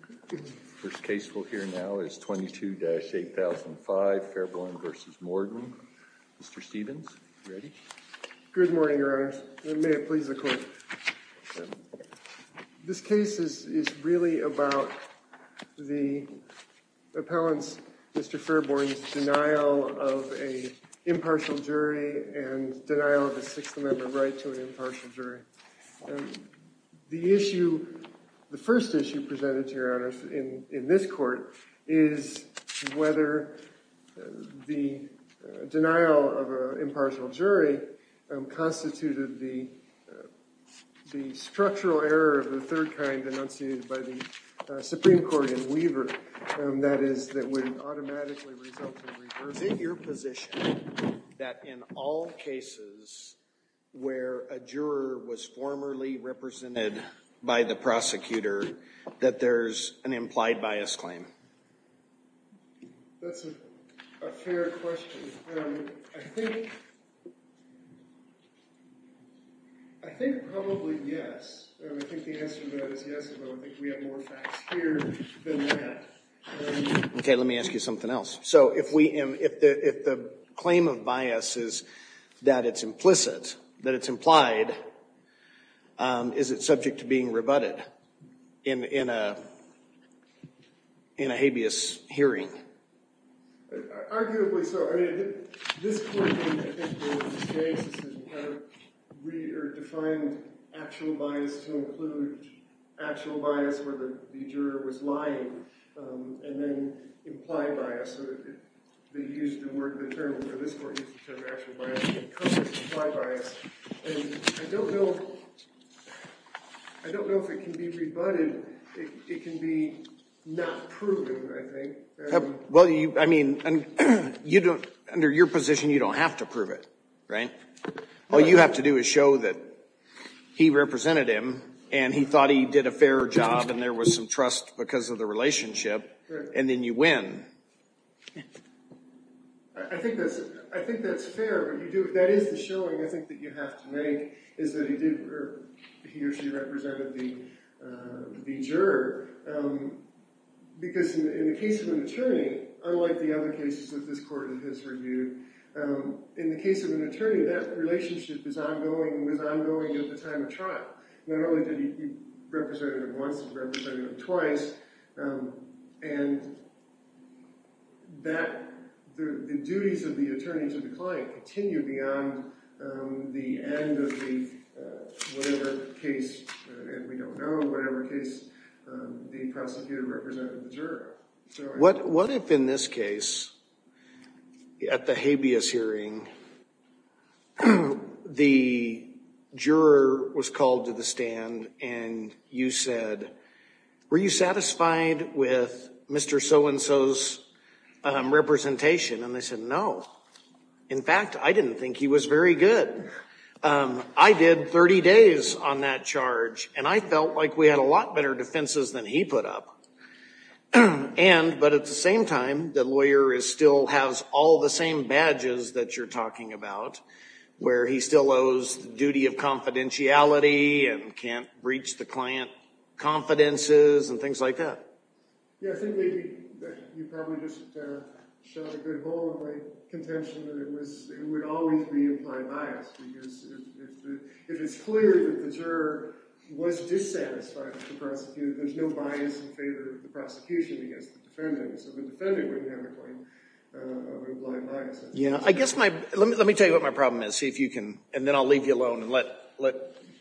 Good morning, Your Honor. May it please the Court. This case is really about the appellant's, Mr. Fairbourn's, denial of an impartial jury and denial of a Sixth Amendment right to an impartial jury. The question that you presented to Your Honor in this court is whether the denial of an impartial jury constituted the structural error of the third kind enunciated by the Supreme Court in Weaver, that is, that would automatically result in reversing your position that in all cases where a juror was formally represented by the prosecutor that there's an implied bias claim. That's a fair question. I think probably yes. I think the answer to that is yes, but I think we have more facts here than that. Okay, let me ask you something else. So if we, if the claim of bias is that it's implicit, that it's implied, is it subject to being rebutted in a habeas hearing? Arguably so. I mean, this claim in this case is that you have redefined actual bias to include actual bias where the implied bias, they used the word, the term, or this court used the term actual bias, and I don't know, I don't know if it can be rebutted. It can be not proven, I think. Well, you, I mean, you don't, under your position, you don't have to prove it, right? All you have to do is show that he represented him and he thought he did a fair job and there was some trust because of the relationship, and then you win. I think that's fair, but you do, that is the showing, I think, that you have to make, is that he did, or he or she represented the juror. Because in the case of an attorney, unlike the other cases of this court in his review, in the case of an attorney, that relationship is ongoing and was ongoing at the time of trial. Not only did he represent him once, he represented him twice, and that, the duties of the attorney to the client continue beyond the end of the whatever case, and we don't know, whatever case the prosecutor represented the juror. What if in this case, at the habeas hearing, the juror was called to the stand and you said, were you satisfied with Mr. So-and-so's representation? And they said, no. In fact, I didn't think he was very good. I did 30 days on that charge, and I felt like we had a lot better defenses than he put up. And, but at the same time, the lawyer is still, has all the same badges that you're talking about, where he still owes the duty of confidentiality and can't breach the client confidences and things like that. Yeah, I think maybe you probably just shot a good hole in my contention that it was, it would always be implied bias, because if it's clear that the juror was dissatisfied with the prosecutor, there's no bias in favor of the prosecution against the defendant, so the defendant wouldn't have a claim of implied bias. Yeah, I guess my, let me tell you what my problem is, see if you can, and then I'll leave you alone and let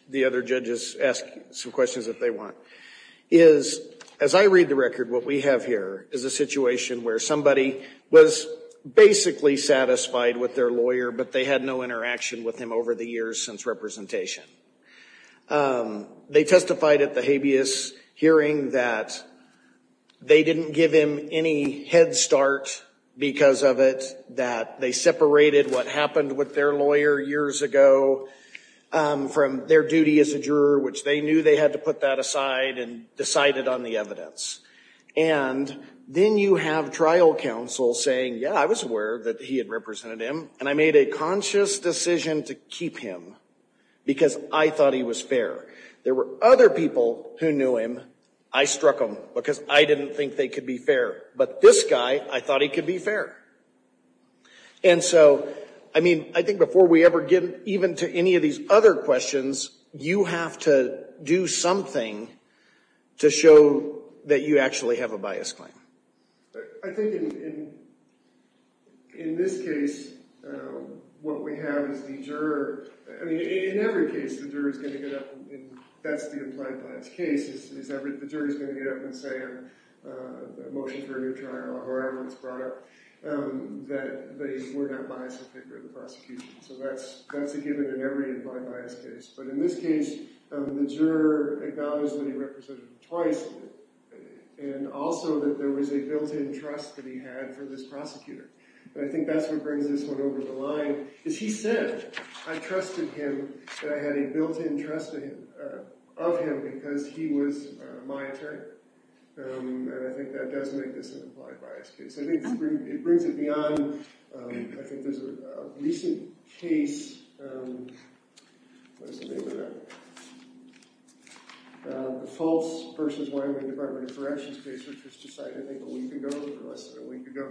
the other judges ask some questions if they want, is, as I read the record, what we have here is a situation where somebody was basically satisfied with their lawyer, but they had no interaction with him over the years since representation. They testified at the habeas hearing that they didn't give him any head start because of it, that they separated what happened with their lawyer years ago from their duty as a juror, which they knew they had to put that aside and decided on the evidence. And then you have trial counsel saying, yeah, I was aware that he had represented him, and I made a conscious decision to keep him because I thought he was fair. There were other people who knew him. I struck them because I didn't think they could be fair, but this guy, I thought he could be fair. And so, I mean, I think before we ever get even to any of these other questions, you have to do something to show that you actually have a bias claim. I think in this case, what we have is the juror. I mean, in every case, the juror is going to get up, and that's the implied bias case, is the jury is going to get up and say a motion for a new trial, or however it's brought up, that they were not biased in favor of the prosecution. So that's a given in every implied bias case. But in this case, the juror acknowledged that he represented him twice, and also that there was a built-in trust that he had for this prosecutor. And I think that's what brings this one over the line, is he said, I trusted him, that I had a built-in trust of him because he was my attorney. And I think that does make this an implied bias case. I think it brings it beyond, I think there's a recent case, what is the name of that? The false versus Wyoming Department of Corrections case, which was decided, I think, a week ago, or less than a week ago,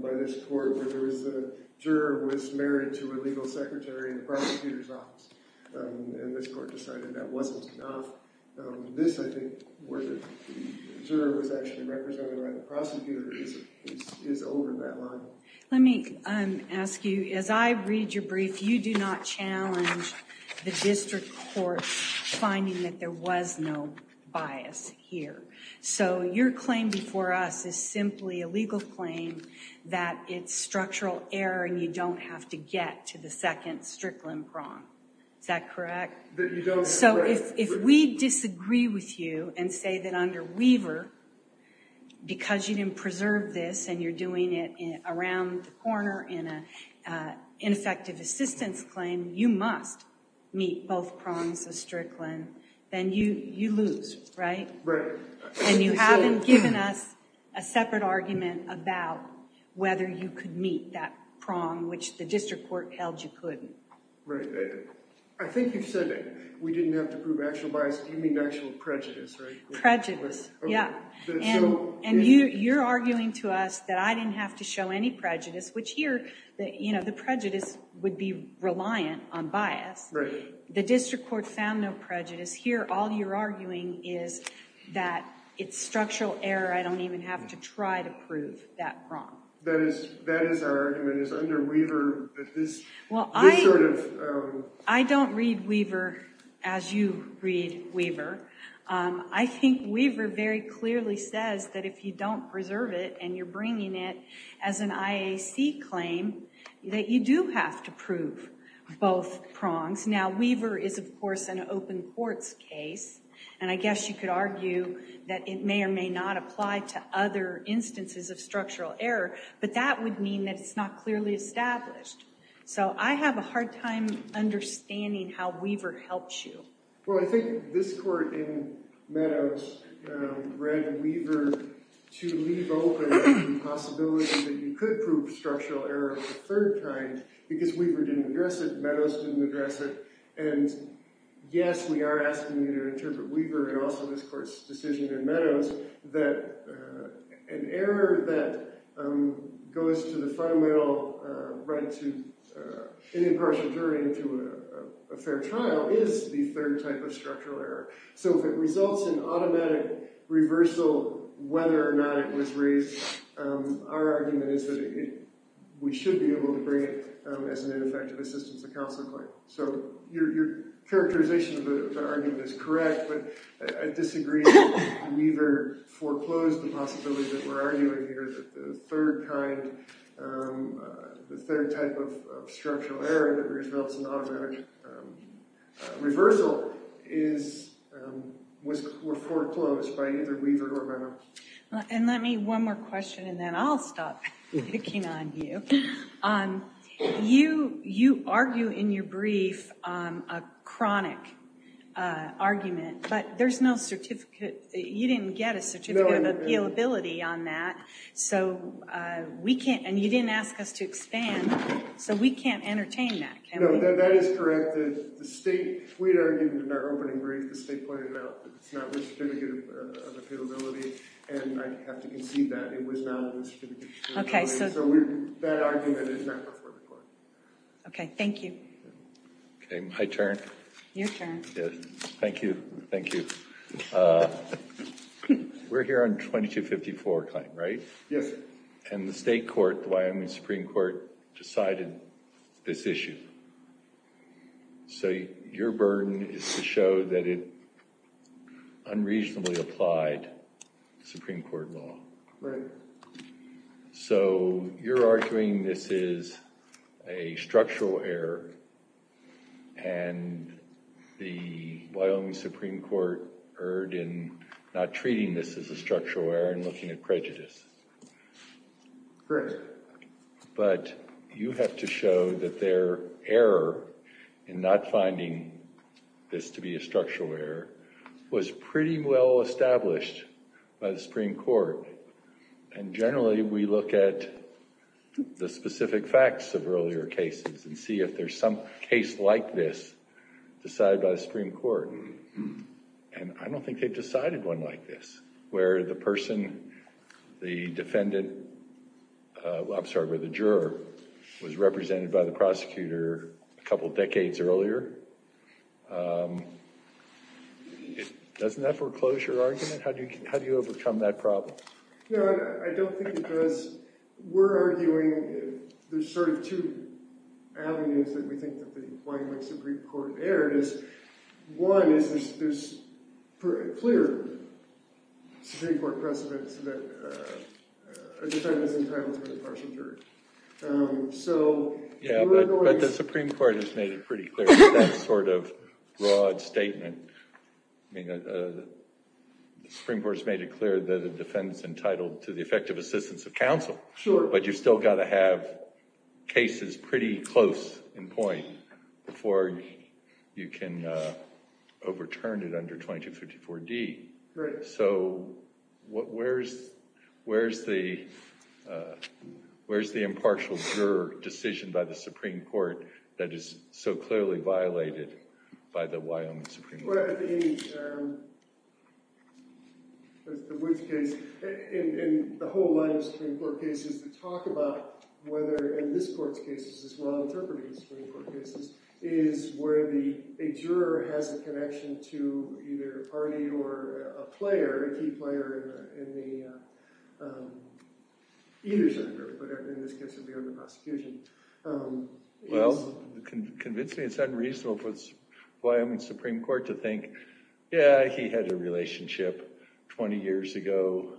by this court, where there was a juror who was married to a legal secretary in the prosecutor's office. And this court decided that wasn't enough. This, I think, where the juror was actually represented by the prosecutor is over that line. Let me ask you, as I read your brief, you do not challenge the district court finding that there was no bias here. So your claim before us is simply a legal claim that it's structural error, and you don't have to get to the second strickland prong. Is that correct? So if we disagree with you and say that under Weaver, because you didn't preserve this and you're doing it around the corner in an ineffective assistance claim, you must meet both prongs of strickland, then you lose, right? And you haven't given us a separate argument about whether you could meet that prong, which the district court held you couldn't. Right. I think you've said that we didn't have to prove actual bias. You mean actual prejudice, right? Prejudice. Yeah. And you're arguing to us that I didn't have to show any prejudice, which here, you know, the prejudice would be reliant on bias. Right. The district court found no prejudice. Here, all you're arguing is that it's structural error. I don't even have to try to prove that prong. That is our argument, is under Weaver, that this sort of… Well, I don't read Weaver as you read Weaver. I think Weaver very clearly says that if you don't preserve it and you're bringing it as an IAC claim, that you do have to prove both prongs. Now, Weaver is, of course, an open courts case, and I guess you could argue that it may or may not apply to other instances of structural error, but that would mean that it's not clearly established. So I have a hard time understanding how Weaver helps you. Well, I think this court in Meadows read Weaver to leave open the possibility that you could prove structural error a third time because Weaver didn't address it, Meadows didn't address it. And yes, we are asking you to interpret Weaver and also this court's decision in Meadows that an error that goes to the fundamental right to an impartial jury into a fair trial is the third type of structural error. So if it results in automatic reversal, whether or not it was raised, our argument is that we should be able to bring it as an ineffective assistance to counsel claim. So your characterization of the argument is correct, but I disagree that Weaver foreclosed the possibility that we're arguing here that the third type of structural error that results in automatic reversal was foreclosed by either Weaver or Meadows. And let me, one more question, and then I'll stop picking on you. You argue in your brief a chronic argument, but there's no certificate, you didn't get a certificate of appealability on that, so we can't, and you didn't ask us to expand, so we can't entertain that, can we? No, that is correct. The state, we argued in our opening brief, the state pointed out that it's not with certificate of appealability, and I have to concede that it was not with certificate of appealability. So that argument is not for the court. Okay, thank you. Okay, my turn. Your turn. Thank you, thank you. We're here on 2254 claim, right? Yes. And the state court, the Wyoming Supreme Court, decided this issue. So your burden is to show that it unreasonably applied Supreme Court law. Right. So you're arguing this is a structural error, and the Wyoming Supreme Court erred in not treating this as a structural error and looking at prejudice. Correct. But you have to show that their error in not finding this to be a structural error was pretty well established by the Supreme Court. And generally, we look at the specific facts of earlier cases and see if there's some case like this decided by the Supreme Court. And I don't think they've decided one like this, where the person, the defendant, I'm sorry, where the juror was represented by the prosecutor a couple decades earlier. Doesn't that foreclose your argument? How do you overcome that problem? No, I don't think it does. We're arguing there's sort of two avenues that we think that the Wyoming Supreme Court erred in. One is there's clear Supreme Court precedents that a defendant is entitled to a partial jury. But the Supreme Court has made it pretty clear that that's sort of a broad statement. The Supreme Court has made it clear that a defendant is entitled to the effective assistance of counsel. But you've still got to have cases pretty close in point before you can overturn it under 2254D. Right. So where's the impartial juror decision by the Supreme Court that is so clearly violated by the Wyoming Supreme Court? Well, in the Woods case, in the whole line of Supreme Court cases, the talk about whether in this court's cases, as well interpreting the Supreme Court cases, is where a juror has a connection to either a party or a player, a key player in either side. But in this case, it would be on the prosecution. Well, convincingly, it's unreasonable for the Wyoming Supreme Court to think, yeah, he had a relationship 20 years ago.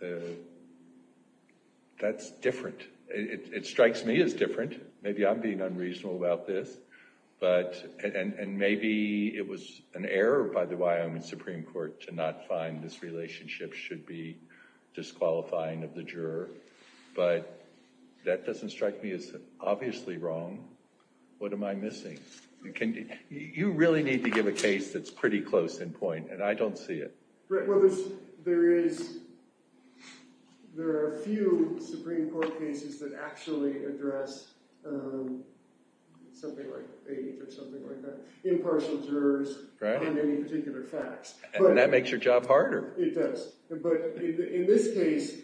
It strikes me as different. Maybe I'm being unreasonable about this. And maybe it was an error by the Wyoming Supreme Court to not find this relationship should be disqualifying of the juror. But that doesn't strike me as obviously wrong. What am I missing? You really need to give a case that's pretty close in point, and I don't see it. Well, there are a few Supreme Court cases that actually address something like faith or something like that, impartial jurors on any particular facts. And that makes your job harder. It does. But in this case,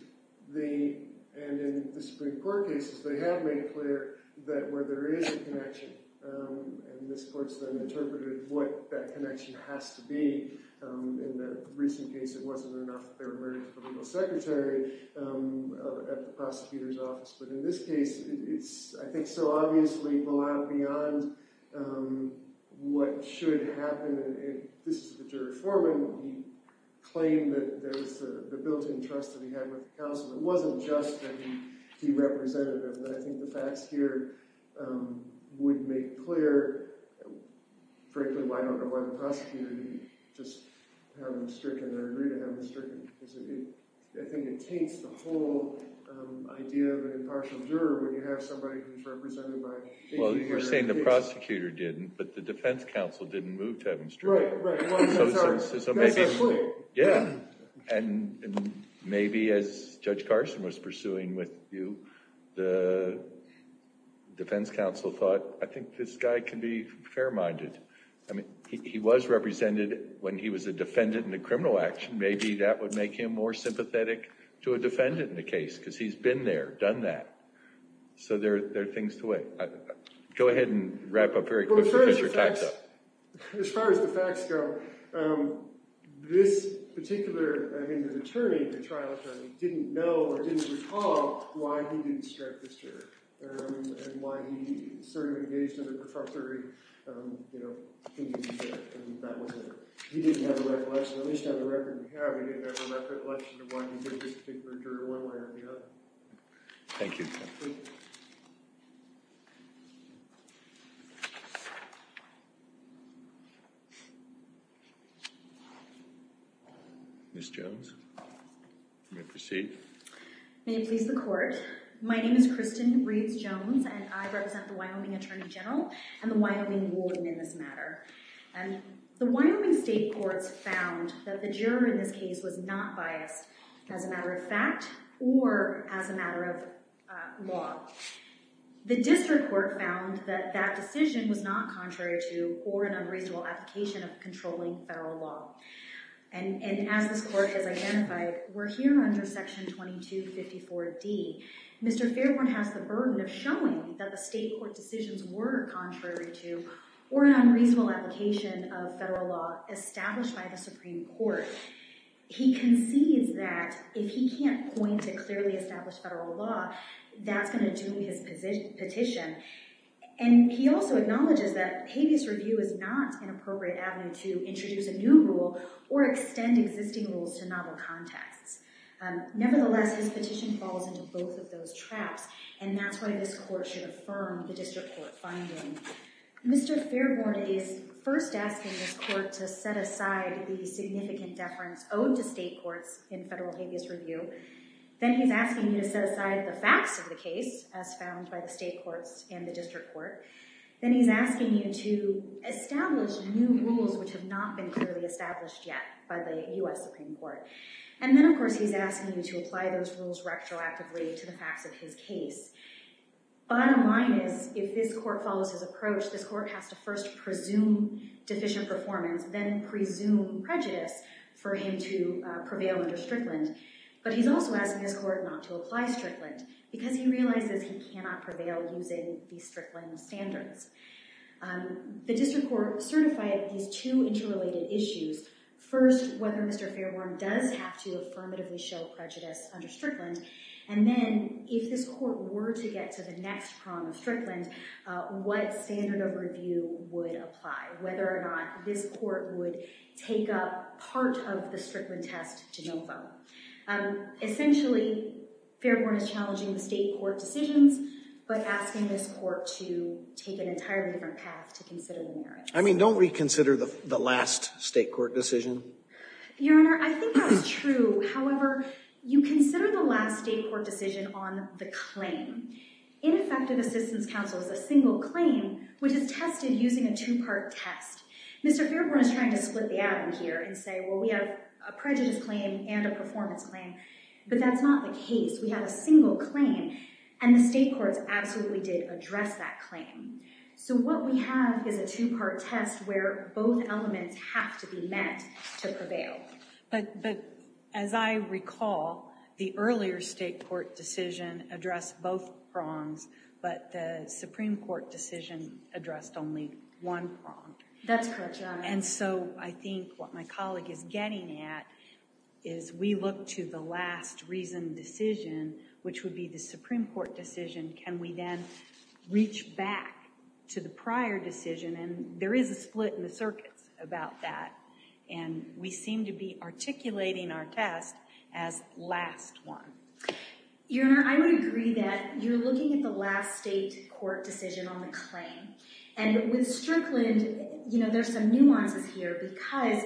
and in the Supreme Court cases, they have made it clear that where there is a connection, and this court's then interpreted what that connection has to be. In the recent case, it wasn't enough. There were verdicts for legal secretary at the prosecutor's office. But in this case, it's, I think, so obviously, well out beyond what should happen. And this is the jury foreman. He claimed that there was the built-in trust that he had with the counsel. It wasn't just that he represented him. And I think the facts here would make clear, frankly, why I don't know why the prosecutor didn't just have him stricken or agree to have him stricken. Because I think it taints the whole idea of an impartial juror when you have somebody who's represented by a jury. Well, you're saying the prosecutor didn't, but the defense counsel didn't move to have him stricken. Right, right. Well, that's our point. Yeah. And maybe as Judge Carson was pursuing with you, the defense counsel thought, I think this guy can be fair-minded. I mean, he was represented when he was a defendant in a criminal action. Maybe that would make him more sympathetic to a defendant in the case, because he's been there, done that. So there are things to weigh. Go ahead and wrap up very quickly, because you're tied up. Well, as far as the facts go, this particular, I think, attorney, the trial attorney, didn't know, or didn't recall, why he didn't strike this juror, and why he sort of engaged in the prosecutory. He didn't have the recollection, at least on the record we have, he didn't have the recollection of why he did this particular juror one way or the other. Thank you. Thank you. Ms. Jones? May I proceed? May it please the Court. My name is Kristen Reeds-Jones, and I represent the Wyoming Attorney General and the Wyoming Warden in this matter. The Wyoming State Courts found that the juror in this case was not biased as a matter of fact or as a matter of law. The District Court found that that decision was not contrary to or an unreasonable application of controlling federal law. And as this Court has identified, we're here under Section 2254D. Mr. Fairbourn has the burden of showing that the State Court decisions were contrary to or an unreasonable application of federal law established by the Supreme Court. He concedes that if he can't point to clearly established federal law, that's going to doom his petition. And he also acknowledges that habeas review is not an appropriate avenue to introduce a new rule or extend existing rules to novel contexts. Nevertheless, his petition falls into both of those traps, and that's why this Court should affirm the District Court finding. Mr. Fairbourn is first asking this Court to set aside the significant deference owed to State Courts in federal habeas review. Then he's asking you to set aside the facts of the case, as found by the State Courts and the District Court. Then he's asking you to establish new rules which have not been clearly established yet by the U.S. Supreme Court. And then, of course, he's asking you to apply those rules retroactively to the facts of his case. Bottom line is, if this Court follows his approach, this Court has to first presume deficient performance, then presume prejudice for him to prevail under Strickland. But he's also asking this Court not to apply Strickland because he realizes he cannot prevail using the Strickland standards. The District Court certified these two interrelated issues. First, whether Mr. Fairbourn does have to affirmatively show prejudice under Strickland. And then, if this Court were to get to the next prong of Strickland, what standard of review would apply? Whether or not this Court would take up part of the Strickland test to no vote? Essentially, Fairbourn is challenging the State Court decisions, but asking this Court to take an entirely different path to consider the merits. I mean, don't we consider the last State Court decision? Your Honor, I think that's true. However, you consider the last State Court decision on the claim. Ineffective Assistance Counsel is a single claim which is tested using a two-part test. Mr. Fairbourn is trying to split the ad in here and say, well, we have a prejudice claim and a performance claim, but that's not the case. We have a single claim, and the State Courts absolutely did address that claim. So, what we have is a two-part test where both elements have to be met to prevail. But, as I recall, the earlier State Court decision addressed both prongs, but the Supreme Court decision addressed only one prong. That's correct, Your Honor. And so, I think what my colleague is getting at is we look to the last reasoned decision, which would be the Supreme Court decision. Can we then reach back to the prior decision? And there is a split in the circuits about that. And we seem to be articulating our test as last one. Your Honor, I would agree that you're looking at the last State Court decision on the claim. And with Strickland, you know, there's some nuances here because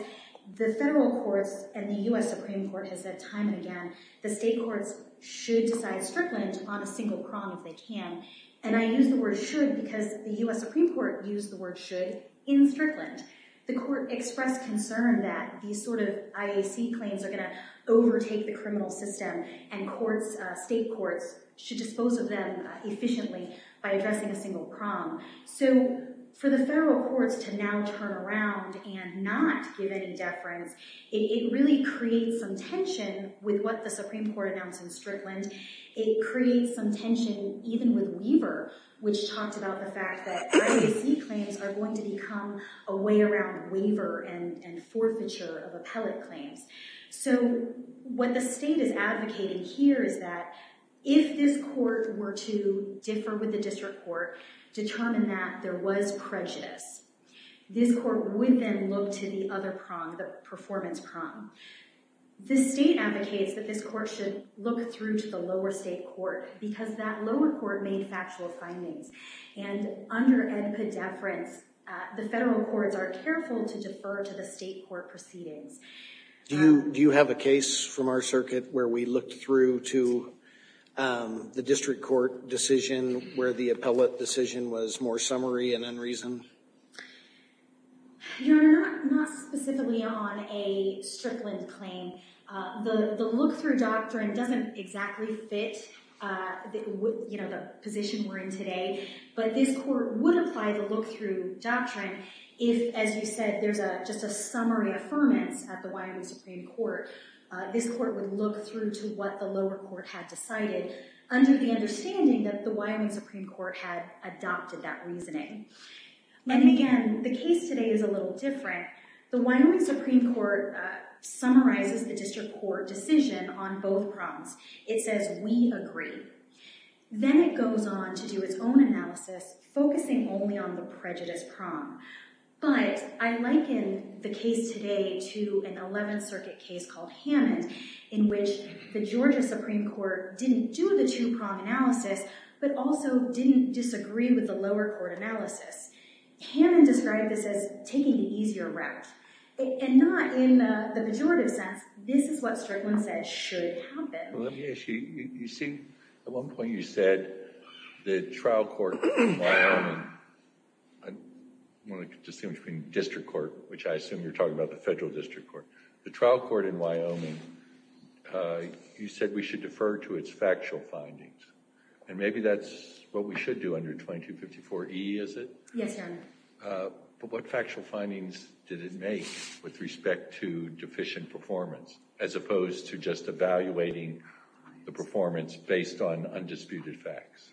the Federal Courts and the U.S. Supreme Court has said time and again the State Courts should decide Strickland on a single prong if they can. And I use the word should because the U.S. Supreme Court used the word should in Strickland. The Court expressed concern that these sort of IAC claims are going to overtake the criminal system and courts, State Courts, should dispose of them efficiently by addressing a single prong. So, for the Federal Courts to now turn around and not give any deference, it really creates some tension with what the Supreme Court announced in Strickland. It creates some tension even with Weaver, which talked about the fact that IAC claims are going to become a way around waiver and forfeiture of appellate claims. So, what the State is advocating here is that if this Court were to differ with the District Court, determine that there was prejudice, this Court would then look to the other prong, the performance prong. The State advocates that this Court should look through to the lower State Court because that lower Court made factual findings. And under NPDEFERENCE, the Federal Courts are careful to defer to the State Court proceedings. Do you have a case from our circuit where we looked through to the District Court decision where the appellate decision was more summary and unreason? Not specifically on a Strickland claim. The look-through doctrine doesn't exactly fit the position we're in today. But this Court would apply the look-through doctrine if, as you said, there's just a case at the Wyoming Supreme Court. This Court would look through to what the lower Court had decided under the understanding that the Wyoming Supreme Court had adopted that reasoning. And again, the case today is a little different. The Wyoming Supreme Court summarizes the District Court decision on both prongs. It says, we agree. Then it goes on to do its own analysis, focusing only on the prejudice prong. But I liken the case today to an Eleventh Circuit case called Hammond, in which the Georgia Supreme Court didn't do the two-prong analysis, but also didn't disagree with the lower court analysis. Hammond described this as taking the easier route. And not in the pejorative sense. This is what Strickland says should happen. You see, at one point you said the trial court in Wyoming, I want to distinguish between District Court, which I assume you're talking about, the Federal District Court. The trial court in Wyoming, you said we should defer to its factual findings. And maybe that's what we should do under 2254E, is it? Yes, Your Honor. But what factual findings did it make with respect to deficient performance, as opposed to just evaluating the performance based on undisputed facts?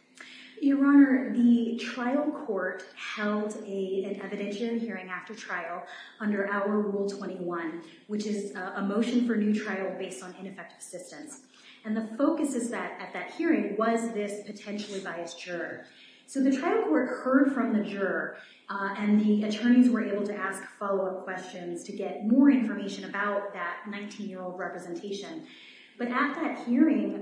Your Honor, the trial court held an evidentiary hearing after trial under our Rule 21, which is a motion for new trial based on ineffective assistance. And the focus at that hearing was this potentially biased juror. So the trial court heard from the juror, and the attorneys were able to ask follow-up questions to get more information about that 19-year-old representation. But at that hearing,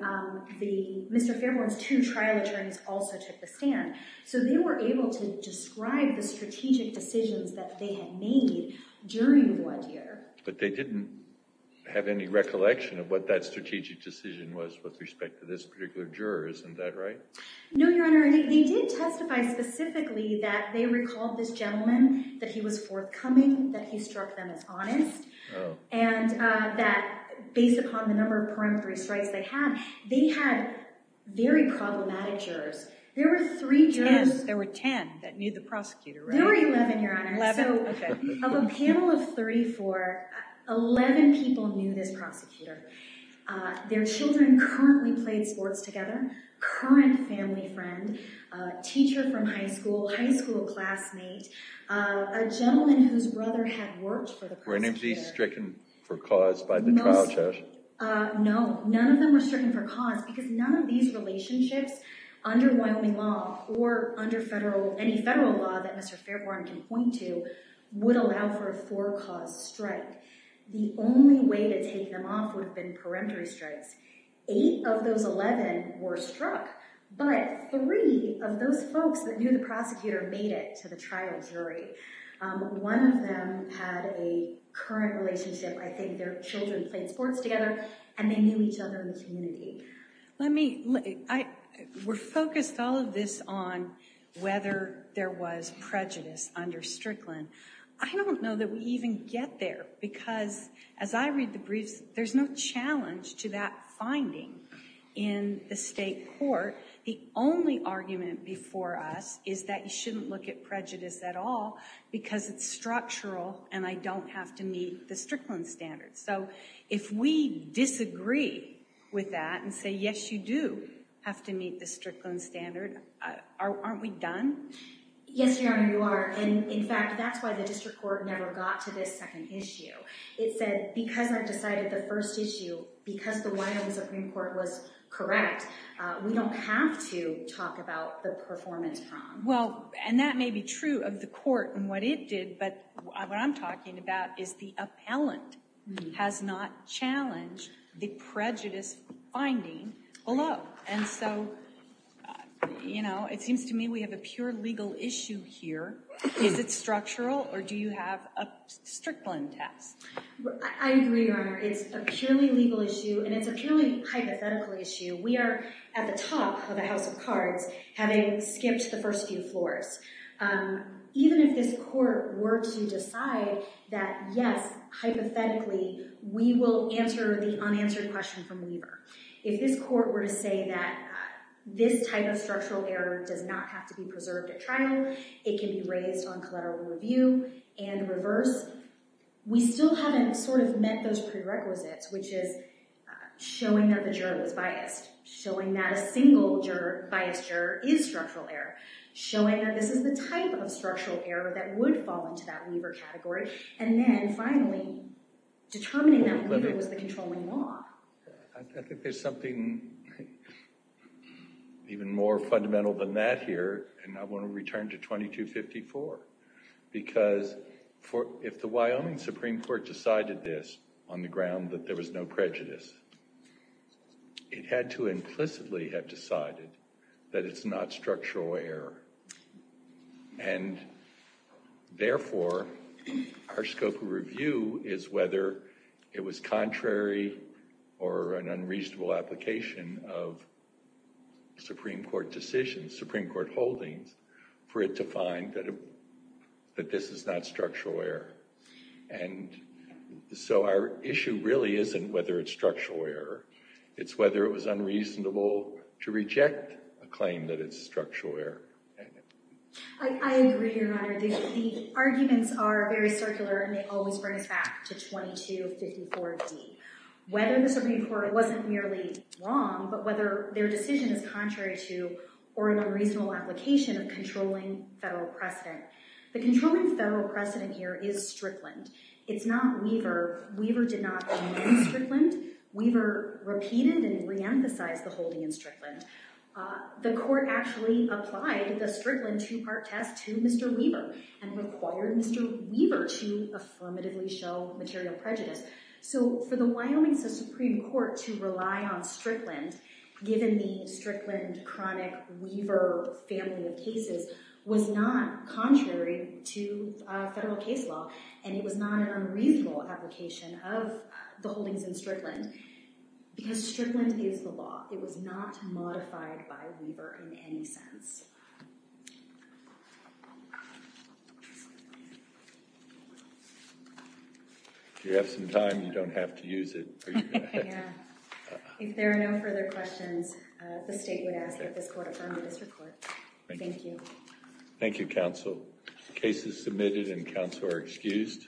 Mr. Fairbourn's two trial attorneys also took the stand. So they were able to describe the strategic decisions that they had made during the one year. But they didn't have any recollection of what that strategic decision was with respect to this particular juror, isn't that right? No, Your Honor. They did testify specifically that they recalled this gentleman, that he was forthcoming, that he struck them as honest, and that based upon the number of peremptory strikes they had, they had very problematic jurors. There were three jurors. Yes, there were 10 that knew the prosecutor, right? There were 11, Your Honor. Eleven? Okay. So of a panel of three, four, 11 people knew this prosecutor. Their children currently played sports together, current family friend, teacher from high school, high school classmate, a gentleman whose brother had worked for the prosecutor. Were any of these stricken for cause by the trial judge? No. None of them were stricken for cause because none of these relationships under Wyoming law or under any federal law that Mr. Fairbourn can point to would allow for a for-cause strike. The only way to take them off would have been peremptory strikes. Eight of those 11 were struck, but three of those folks that knew the prosecutor made it to the trial jury. One of them had a current relationship. I think their children played sports together, and they knew each other in the community. We're focused all of this on whether there was prejudice under Strickland. I don't know that we even get there because, as I read the briefs, there's no challenge to that finding in the state court. The only argument before us is that you shouldn't look at prejudice at all because it's structural and I don't have to meet the Strickland standard. So if we disagree with that and say, yes, you do have to meet the Strickland standard, aren't we done? Yes, Your Honor, you are. In fact, that's why the district court never got to this second issue. It said, because I've decided the first issue, because the Wyoming Supreme Court was correct, we don't have to talk about the performance problem. Well, and that may be true of the court and what it did, but what I'm talking about is the appellant has not challenged the prejudice finding below. And so, you know, it seems to me we have a pure legal issue here. Is it structural or do you have a Strickland test? I agree, Your Honor. It's a purely legal issue and it's a purely hypothetical issue. We are at the top of the house of cards having skipped the first few floors. Even if this court were to decide that, yes, hypothetically, we will answer the unanswered question from Weber. If this court were to say that this type of structural error does not have to be preserved at trial, it can be raised on collateral review and reversed, we still haven't sort of met those prerequisites, which is showing that the juror was biased, showing that a single biased juror is structural error, showing that this is the type of structural error that would fall into that Weber category, and then finally determining that Weber was the controlling law. I think there's something even more fundamental than that here, and I want to return to 2254, because if the Wyoming Supreme Court decided this on the ground that there was no prejudice, it had to implicitly have decided that it's not structural error, and therefore our scope of review is whether it was contrary or an unreasonable application of Supreme Court decisions, Supreme Court holdings, for it to find that this is not structural error. And so our issue really isn't whether it's structural error, it's whether it was unreasonable to reject a claim that it's structural error. I agree, Your Honor. The arguments are very circular, and they always bring us back to 2254d. Whether the Supreme Court wasn't merely wrong, but whether their decision is contrary to or unreasonable application of controlling federal precedent. The controlling federal precedent here is Strickland. It's not Weber. Weber did not hold in Strickland. Weber repeated and re-emphasized the holding in Strickland. The court actually applied the Strickland two-part test to Mr. Weber and required Mr. Weber to affirmatively show material prejudice. So for the Wyoming Supreme Court to rely on Strickland, given the Strickland chronic Weber family of cases, was not contrary to federal case law, and it was not an unreasonable application of the holdings in Strickland, because Strickland is the law. It was not modified by Weber in any sense. If you have some time, you don't have to use it. Yeah. If there are no further questions, the state would ask that this court affirm the district court. Thank you. Thank you, counsel. Cases submitted and counsel are excused.